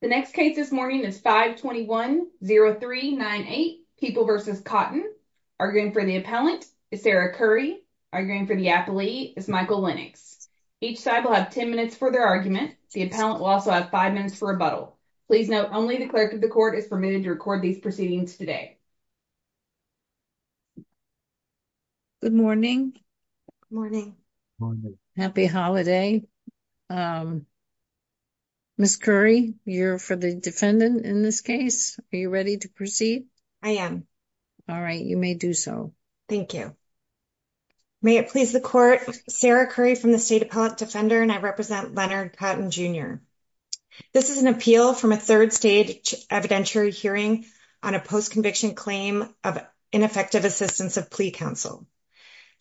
The next case this morning is 521-0398, People v. Cotton. Arguing for the appellant is Sarah Curry. Arguing for the appellee is Michael Lennox. Each side will have 10 minutes for their argument. The appellant will also have 5 minutes for rebuttal. Please note, only the clerk of the court is permitted to record these proceedings today. Good morning. Good morning. Happy holiday. Ms. Curry, you're for the defendant in this case. Are you ready to proceed? I am. All right, you may do so. Thank you. May it please the court, Sarah Curry from the State Appellate Defender and I represent Leonard Jr. This is an appeal from a third-stage evidentiary hearing on a post-conviction claim of ineffective assistance of plea counsel.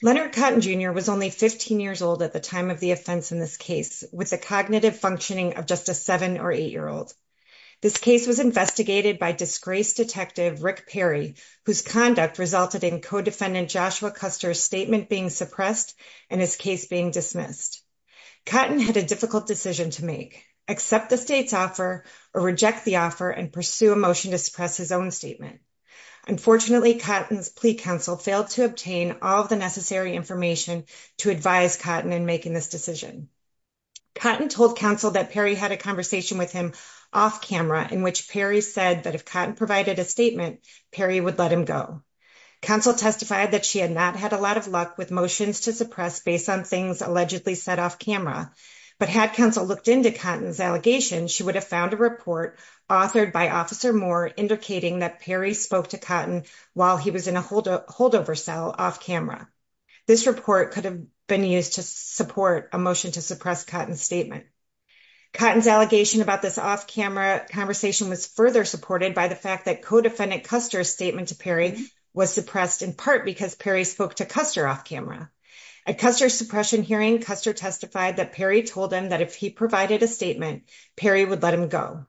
Leonard Cotton Jr. was only 15 years old at the time of the offense in this case, with a cognitive functioning of just a seven or eight-year-old. This case was investigated by disgraced detective Rick Perry, whose conduct resulted in co-defendant Joshua Custer's statement being suppressed and his case being dismissed. Cotton had a difficult decision to make, accept the state's offer or reject the offer and pursue a motion to suppress his own statement. Unfortunately, Cotton's plea counsel failed to obtain all the necessary information to advise Cotton in making this decision. Cotton told counsel that Perry had a conversation with him off-camera in which Perry said that if Cotton provided a statement, Perry would let him go. Counsel testified that she had not had a lot of luck motions to suppress based on things allegedly said off-camera, but had counsel looked into Cotton's allegation, she would have found a report authored by Officer Moore indicating that Perry spoke to Cotton while he was in a holdover cell off-camera. This report could have been used to support a motion to suppress Cotton's statement. Cotton's allegation about this off-camera conversation was further supported by the fact that co-defendant Custer's statement to was suppressed in part because Perry spoke to Custer off-camera. At Custer's suppression hearing, Custer testified that Perry told him that if he provided a statement, Perry would let him go,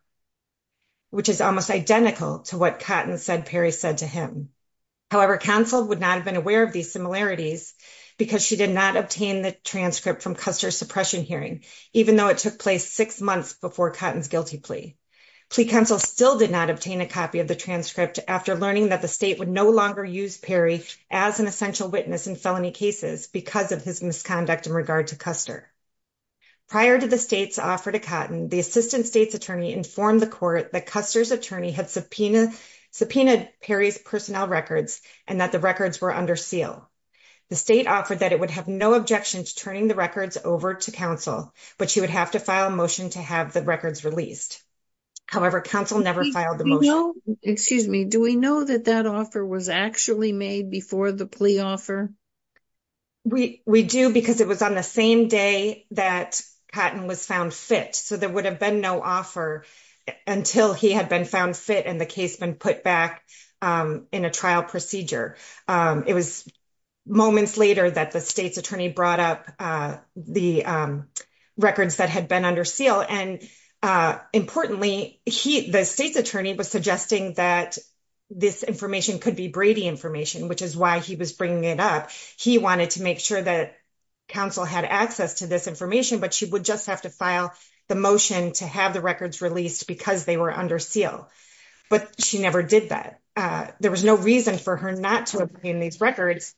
which is almost identical to what Cotton said Perry said to him. However, counsel would not have been aware of these similarities because she did not obtain the transcript from Custer's suppression hearing, even though it took place six months before Cotton's guilty plea. Plea counsel still did not obtain a copy of the transcript after learning that the state would no longer use Perry as an essential witness in felony cases because of his misconduct in regard to Custer. Prior to the state's offer to Cotton, the assistant state's attorney informed the court that Custer's attorney had subpoenaed Perry's personnel records and that the records were under seal. The state offered that it would have no objection to turning the records over to counsel, but she would have to file a motion to have the records released. However, counsel never filed the motion. Excuse me, do we know that that offer was actually made before the plea offer? We do because it was on the same day that Cotton was found fit, so there would have been no offer until he had been found fit and the case been put back in a trial procedure. It was moments later that the state's attorney brought up the records that had been under seal, and importantly, the state's attorney was suggesting that this information could be Brady information, which is why he was bringing it up. He wanted to make sure that counsel had access to this information, but she would just have to file the motion to have the records released because they were under seal, but she never did that. There was no reason for her not to obtain these records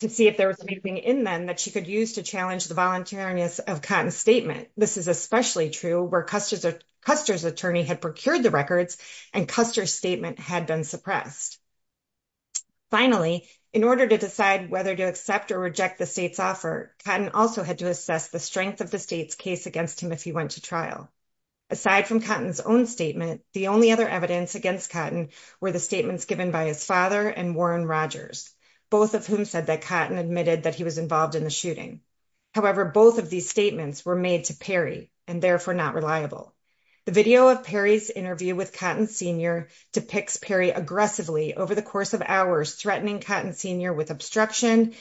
to see if there was anything in them that she could use to challenge the voluntariness of Cotton's statement. This is especially true where Custer's attorney had procured the records and Custer's statement had been suppressed. Finally, in order to decide whether to accept or reject the state's offer, Cotton also had to assess the strength of the state's case against him if he went to trial. Aside from Cotton's own statement, the only other evidence against Cotton were the statements given by his father and Warren Rogers, both of whom said that Cotton admitted that he was involved in the shooting. However, both of these statements were made to Perry and therefore not reliable. The video of Perry's interview with Cotton Sr. depicts Perry aggressively over the course of hours threatening Cotton Sr. with obstruction,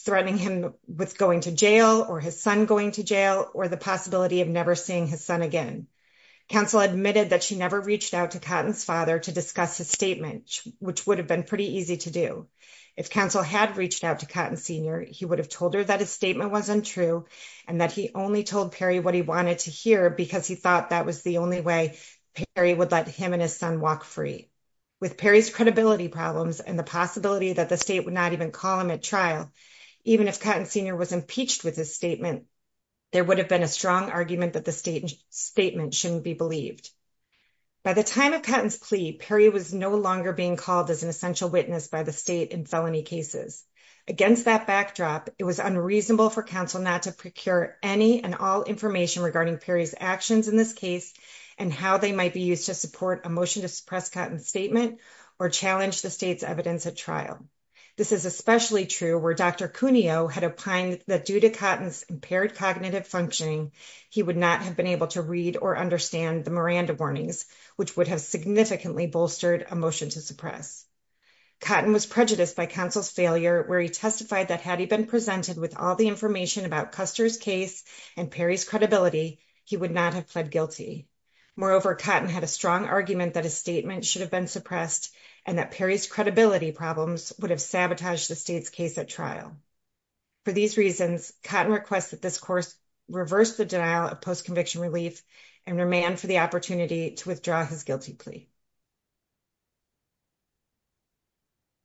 threatening him with going to jail or his son going to jail or the possibility of never seeing his son again. Council admitted that she never reached out to Cotton's father to discuss his statement, which would have been pretty easy to do. If Council had reached out to Cotton Sr., he would have told her that his statement was untrue and that he only told Perry what he wanted to hear because he thought that was the only way Perry would let him and his son walk free. With Perry's credibility problems and the possibility that the state would not even call him at trial, even if Cotton Sr. was impeached with his statement, there would have been a strong argument that the statement shouldn't be believed. By the time of Cotton's plea, Perry was no longer being called as an essential witness by the state in felony cases. Against that backdrop, it was unreasonable for Council not to procure any and all information regarding Perry's actions in this case and how they might be used to support a motion to suppress Cotton's statement or challenge the state's evidence at trial. This is especially true where Dr. Cuneo had opined that due to Cotton's impaired cognitive functioning, he would not have been able to read or understand the Miranda warnings, which would have significantly bolstered a motion to suppress. Cotton was prejudiced by Council's failure where he testified that had he been presented with all the information about Custer's case and Perry's credibility, he would not have pled guilty. Moreover, Cotton had a strong argument that his statement should have been suppressed and that Perry's credibility problems would have sabotaged the state's case at trial. For these reasons, Cotton requests that this course reverse the denial of post-conviction relief and remand for the opportunity to withdraw his guilty plea.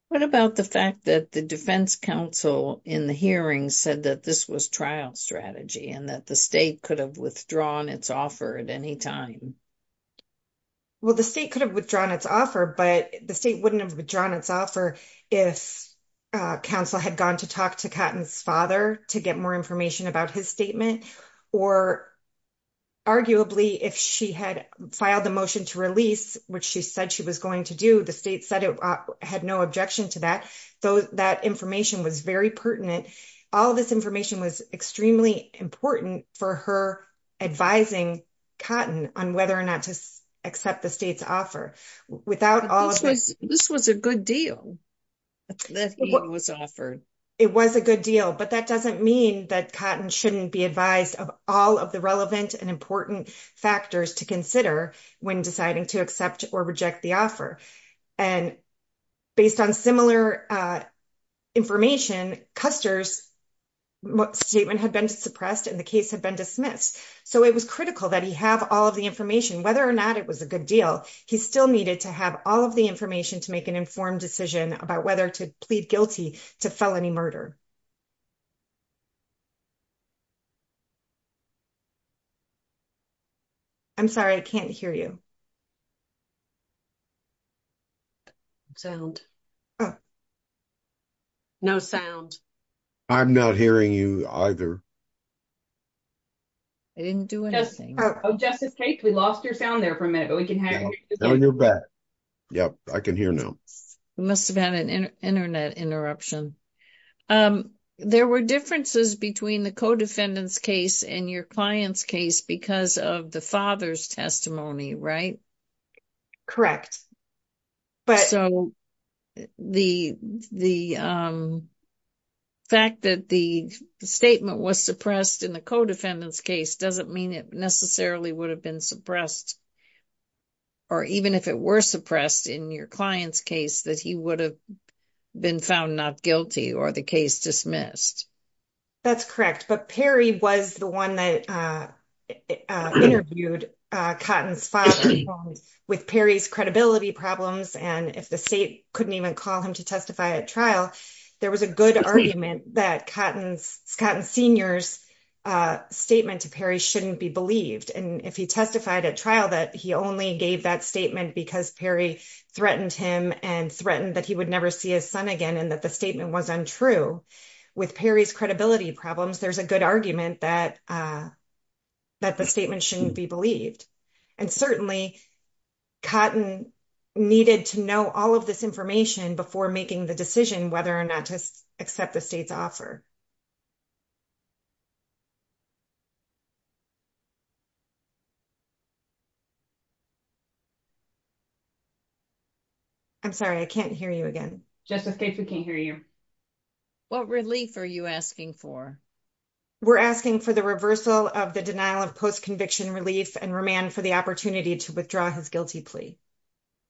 What about the fact that the defense counsel in the hearing said that this was trial strategy and that the state could have withdrawn its offer at any time? Well, the state could have withdrawn offer, but the state wouldn't have withdrawn its offer if counsel had gone to talk to Cotton's father to get more information about his statement. Or arguably, if she had filed the motion to release, which she said she was going to do, the state said it had no objection to that, though that information was very pertinent. All this information was extremely important for her advising Cotton on whether or not to accept the state's offer. This was a good deal that was offered. It was a good deal, but that doesn't mean that Cotton shouldn't be advised of all of the relevant and important factors to consider when deciding to accept or reject the offer. Based on similar information, Custer's statement had been suppressed and the case had been dismissed, so it was critical that he have all of the information. Whether or not it was a good deal, he still needed to have all of the information to make an informed decision about whether to plead guilty to felony murder. I'm sorry, I can't hear you. I'm not hearing you either. I didn't do anything. Oh, Justice Cate, we lost your sound there for a minute, but we can hear you. Oh, you're back. Yep, I can hear now. We must have had an internet interruption. There were differences between the co-defendant's case and your client's case because of the father's testimony, right? So, the fact that the statement was suppressed in the co-defendant's case doesn't mean it necessarily would have been suppressed, or even if it were suppressed in your client's case, that he would have been found not guilty or the case dismissed. That's correct, but Perry was the one that interviewed Cotton's father with Perry's credibility problems, and if the state couldn't even call him to testify at trial, there was a good argument that Cotton Sr.'s statement to Perry shouldn't be believed, and if he testified at trial that he only gave that statement because Perry threatened him and threatened that he would never see his son again and that the statement was untrue, with Perry's credibility problems, there's a good argument that the statement shouldn't be believed, and certainly Cotton needed to know all of this information before making the decision whether or not to accept the state's offer. I'm sorry, I can't hear you again. Justice Gates, we can't hear you. What relief are you asking for? We're asking for the reversal of the denial of post-conviction relief and remand for the opportunity to withdraw his guilty plea.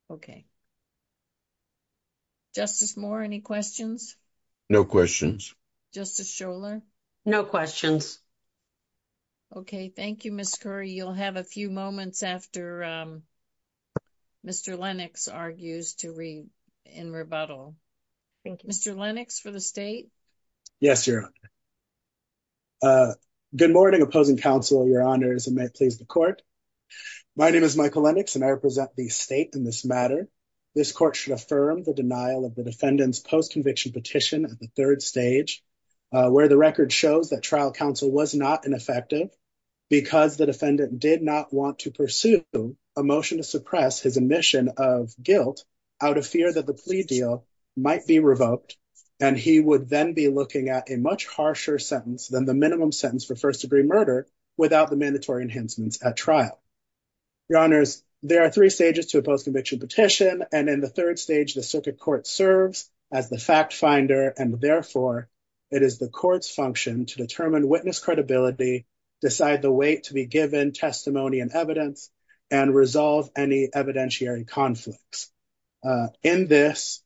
Okay. Justice Moore, any questions? No questions. Justice Scholar? No questions. Okay, thank you, Ms. Curry. You'll have a few moments after Mr. Lennox argues in rebuttal. Mr. Lennox for the state? Yes, Your Honor. Good morning, opposing counsel, Your Honors, and may it please the court. My name is Michael Lennox and I represent the state in this matter. This court should affirm the denial of the defendant's post-conviction petition at the third stage where the record shows that trial counsel was not ineffective because the defendant did not want to pursue a motion to suppress his admission of guilt out of fear that the plea deal might be revoked and he would then be looking at a much harsher sentence than the minimum sentence for first-degree murder without the mandatory enhancements at trial. Your Honors, there are three stages to a post-conviction petition and in the third stage the circuit court serves as the fact finder and therefore it is the court's function to determine witness credibility, decide the weight to be given testimony and evidence, and resolve any evidentiary conflicts. In this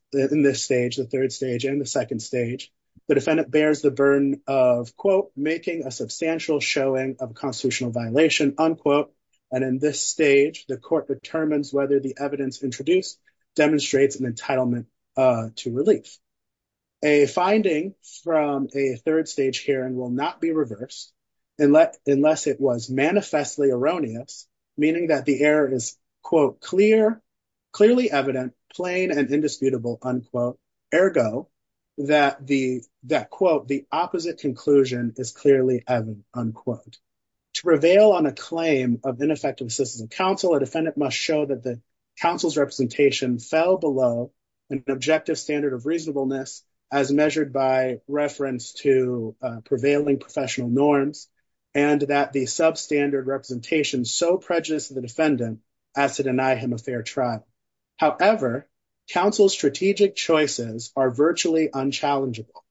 stage, the third stage, and the second stage, the defendant bears the burden of, quote, making a substantial showing of constitutional violation, unquote, and in this stage the court determines whether the evidence introduced demonstrates an entitlement to relief. A finding from a third stage hearing will not be reversed unless it was manifestly erroneous, meaning that the error is, quote, clearly evident, plain and indisputable, unquote, ergo that, quote, the opposite conclusion is clearly evident, unquote. To prevail on a claim of ineffective counsel, a defendant must show that the counsel's representation fell below an objective standard of reasonableness as measured by reference to prevailing professional norms and that the substandard representation so prejudiced the defendant as to deny him a fair trial. However, counsel's strategic choices are virtually unchallengeable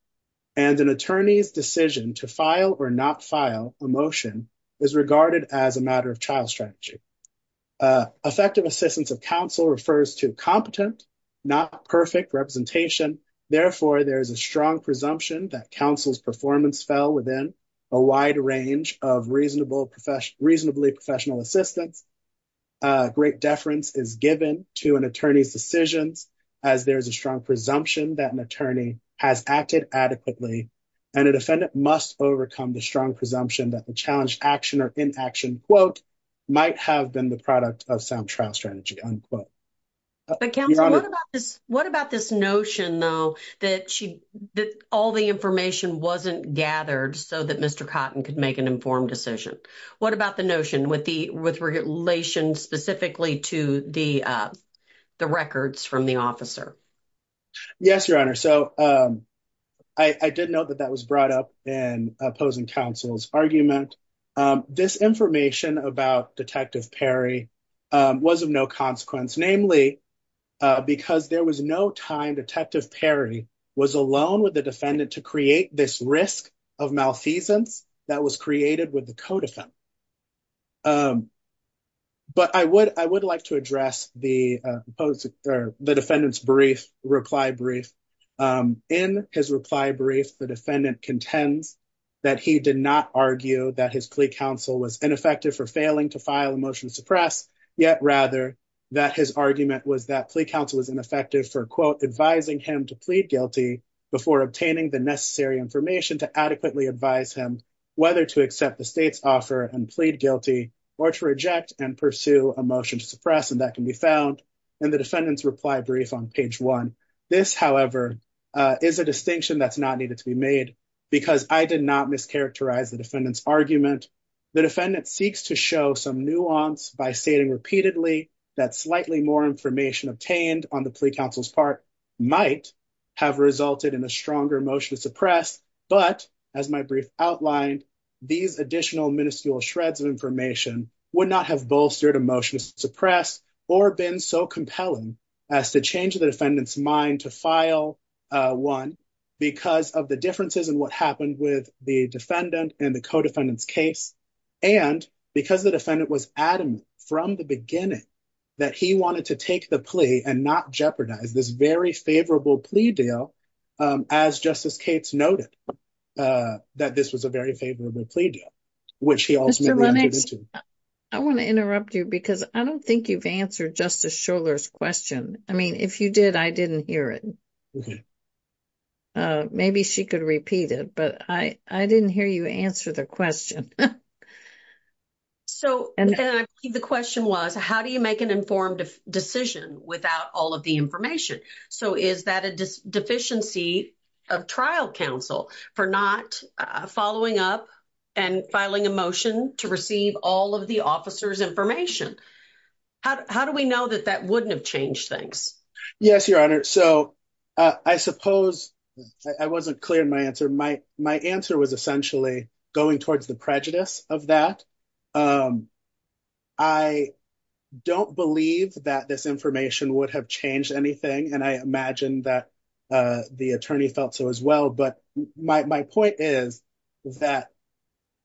and an attorney's decision to file or not file a motion is regarded as a matter of child strategy. Effective assistance of counsel refers to competent, not perfect representation, therefore there is a strong presumption that counsel's performance fell within a wide range of reasonably professional assistance. Great deference is given to an attorney's decisions as there is a strong presumption that an attorney has acted adequately and a defendant must overcome the strong presumption that the challenged action or in action, quote, might have been the product of sound trial strategy, unquote. What about this notion, though, that all the information wasn't gathered so that Mr. Cotton could make an informed decision? What about the notion with relation specifically to the records from the officer? Yes, Your Honor, so I did note that that was brought up in opposing counsel's argument. This information about Detective Perry was of no consequence, namely because there was no time Detective Perry was alone with the defendant to create this risk of malfeasance that was created with the code of him. But I would like to address the defendant's reply brief. In his reply brief, the defendant contends that he did not argue that his plea counsel was ineffective for failing to file a motion to suppress, yet rather that his argument was that plea counsel was ineffective for, quote, advising him to plead guilty before obtaining the necessary information to adequately advise him whether to accept the state's offer and plead guilty or to reject and pursue a motion to suppress, and that can be found in the defendant's reply brief on page one. This, however, is a distinction that's not needed to be made because I did not mischaracterize the defendant's argument. The defendant seeks to show some nuance by stating repeatedly that slightly more information obtained on the plea counsel's part might have resulted in a stronger motion to suppress, but as my brief outlined, these additional minuscule shreds of information would not have bolstered a motion to suppress or been so compelling as to change the defendant's mind to file one because of the differences in what happened with the defendant and the co-defendant's case, and because the defendant was adamant from the beginning that he wanted to take the plea and not jeopardize this very favorable plea deal, as Justice Cates noted, that this was a very favorable plea deal, which he ultimately didn't. I want to interrupt you because I don't think you've answered Justice Shuler's question. I mean, if you did, I didn't hear it. Maybe she could repeat it, but I didn't hear you answer the question. So, the question was, how do you make an informed decision without all of the information? So, is that a deficiency of trial counsel for not following up and filing a motion to receive all of the officer's information? How do we know that that wouldn't have changed things? Yes, Your Honor. So, I suppose I wasn't clear in my answer. My answer was essentially going towards the prejudice of that. I don't believe that this information would have changed anything, and I imagine that the attorney felt so as well, but my point is that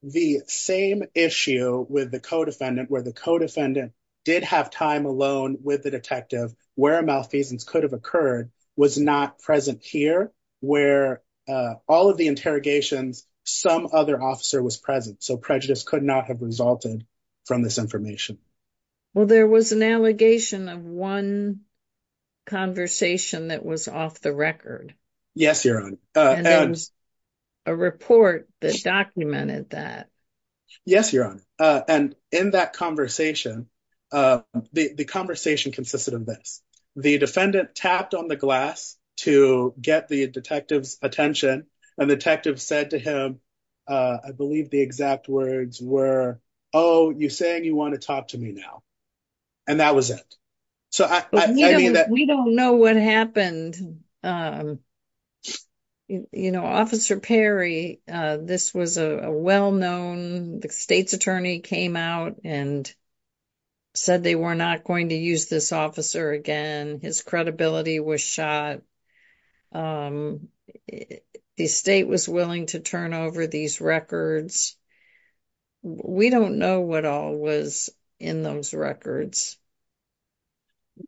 the same issue with the co-defendant, where the co-defendant did have time alone with the detective where a malfeasance could have occurred, was not present here, where all of the interrogations, some other officer was present, so prejudice could not have resulted from this information. Well, there was an allegation of one conversation that was off the record. Yes, Your Honor. And there was a report that documented that. Yes, Your Honor, and in that conversation, the conversation consisted of this. The defendant tapped on the glass to get the detective's attention, and the detective said to him, I believe the exact words were, oh, you're saying you want to talk to me now, and that was it. We don't know what happened. You know, Officer Perry, this was a well-known, the state's attorney came out and said they were not going to use this officer again. His credibility was shot. The state was willing to turn over these records. We don't know what all was in those records.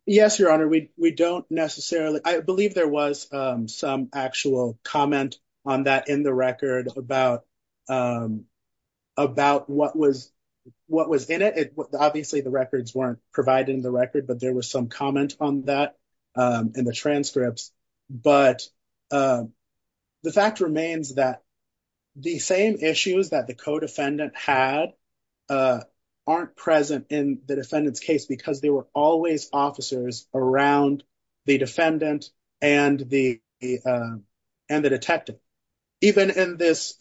Yes, Your Honor, we don't necessarily, I believe there was some actual comment on that in the what was in it. Obviously, the records weren't provided in the record, but there was some comment on that in the transcripts, but the fact remains that the same issues that the co-defendant had aren't present in the defendant's case because there were always officers around the defendant and the detective. Even in this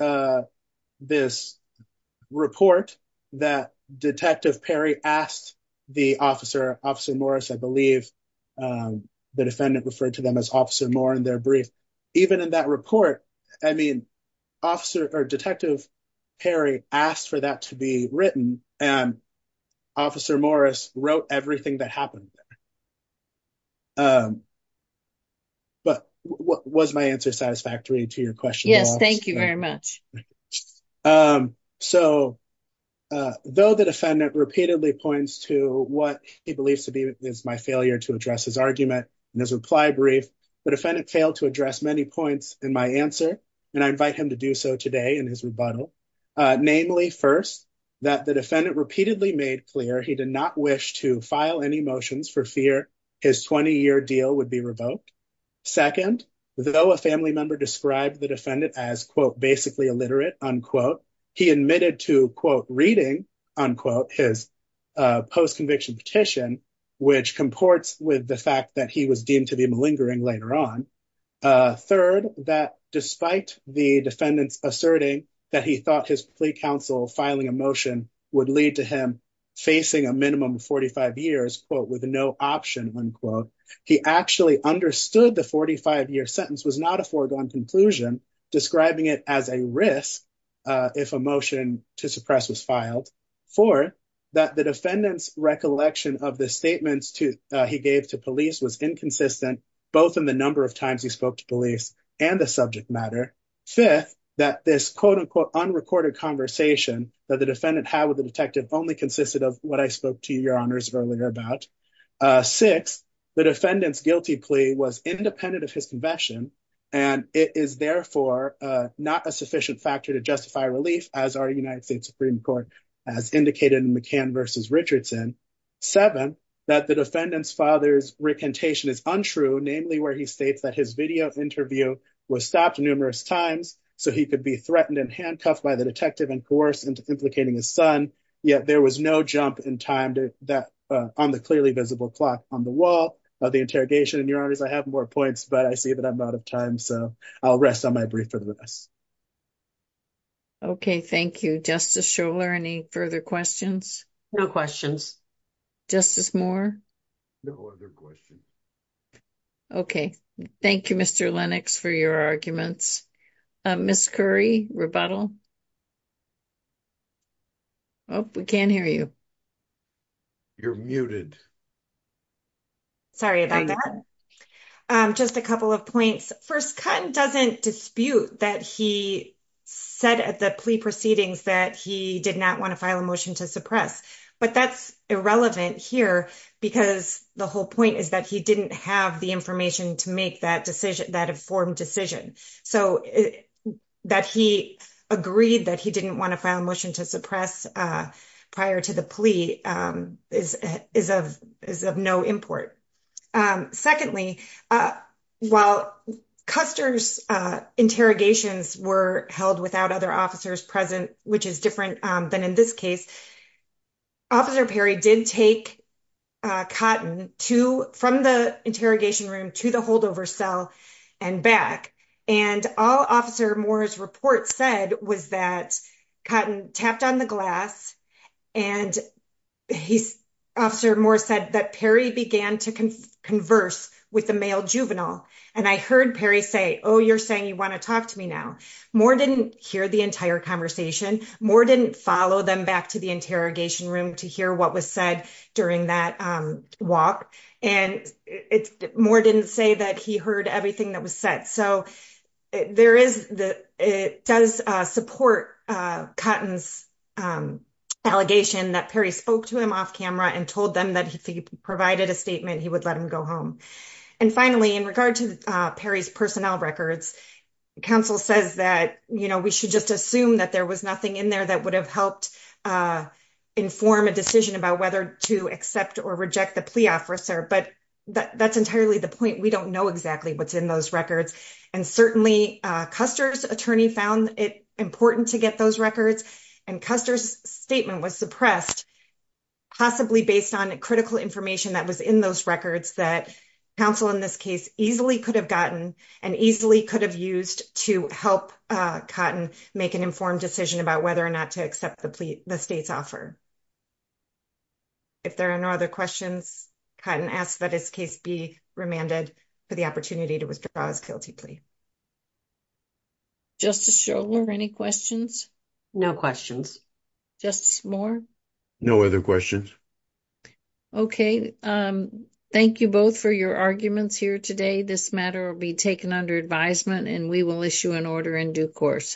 report that Detective Perry asked the officer, Officer Morris, I believe the defendant referred to them as Officer Moore in their brief. Even in that report, I mean, Detective Perry asked for that to be written, and Officer Morris wrote everything that happened. But was my answer satisfactory to your question? Yes, thank you very much. So, though the defendant repeatedly points to what he believes to be my failure to address his argument in his reply brief, the defendant failed to address many points in my answer, and I invite him to do so today in his rebuttal. Namely, first, that the defendant repeatedly made clear he did not wish to file any motions for fear his 20-year deal would be revoked. Second, though a family member described the defendant as, quote, basically illiterate, unquote, he admitted to, quote, reading, unquote, his post-conviction petition, which comports with the fact that he was deemed to be malingering later on. Third, that despite the defendant's asserting that he thought his plea counsel filing a motion would lead to him facing a minimum of 45 years, quote, with no option, unquote, he actually understood the 45-year sentence was not a foregone conclusion, describing it as a risk if a motion to suppress was filed. Fourth, that the defendant's recollection of the statements he gave to police was inconsistent, both in the number of times he spoke to police and the subject matter. Fifth, that this, quote, unquote, unrecorded conversation that the defendant had with the detective only consisted of what I spoke to your honors earlier about. Sixth, the defendant's guilty plea was independent of his conviction, and it is therefore not a sufficient factor to justify relief, as our United States Supreme Court has indicated in McCann versus Richardson. Seventh, that the defendant's recantation is untrue, namely where he states that his video interview was stopped numerous times so he could be threatened and handcuffed by the detective and coerced into implicating his son, yet there was no jump in time on the clearly visible clock on the wall of the interrogation. And your honors, I have more points, but I see that I'm out of time, so I'll rest on my brief for the rest. Okay, thank you. Justice Scholar, any further questions? No questions. Justice Moore? No other questions. Okay, thank you, Mr. Lennox, for your arguments. Ms. Curry, rebuttal? Oh, we can't hear you. You're muted. Sorry about that. Just a couple of points. First, Cotton doesn't dispute that he said at the plea proceedings that he did not want to file a motion to suppress, but that's irrelevant here because the whole point is that he didn't have the information to make that informed decision. So that he agreed that he didn't want to file a motion to suppress prior to the plea is of no import. Secondly, while Custer's interrogations were held without other officers present, which is different than in this case, Officer Perry did take Cotton from the interrogation room to the holdover cell and back. And all Officer Moore's report said was that Cotton tapped on the glass and Officer Moore said that Perry began to converse with the male juvenile. And I heard Perry say, oh, you're saying you want to talk to me now. Moore didn't hear the entire conversation. Moore didn't follow them back to the interrogation room to hear what was said during that walk. And Moore didn't say that he heard everything that was said. So it does support Cotton's allegation that Perry spoke to him off camera and told them that if he provided a statement, he would let him go home. And finally, in regard to Perry's records, counsel says that, you know, we should just assume that there was nothing in there that would have helped inform a decision about whether to accept or reject the plea officer. But that's entirely the point. We don't know exactly what's in those records. And certainly Custer's attorney found it important to get those records. And Custer's statement was suppressed, possibly based on critical information that was in those records that counsel in this case easily could have gotten and easily could have used to help Cotton make an informed decision about whether or not to accept the plea the state's offer. If there are no other questions, Cotton asks that his case be remanded for the opportunity to withdraw his guilty plea. Justice Schorler, any questions? No questions. Justice Moore? No other questions. Okay. Thank you both for your arguments here today. This matter will be taken under advisement and we will issue an order in due course.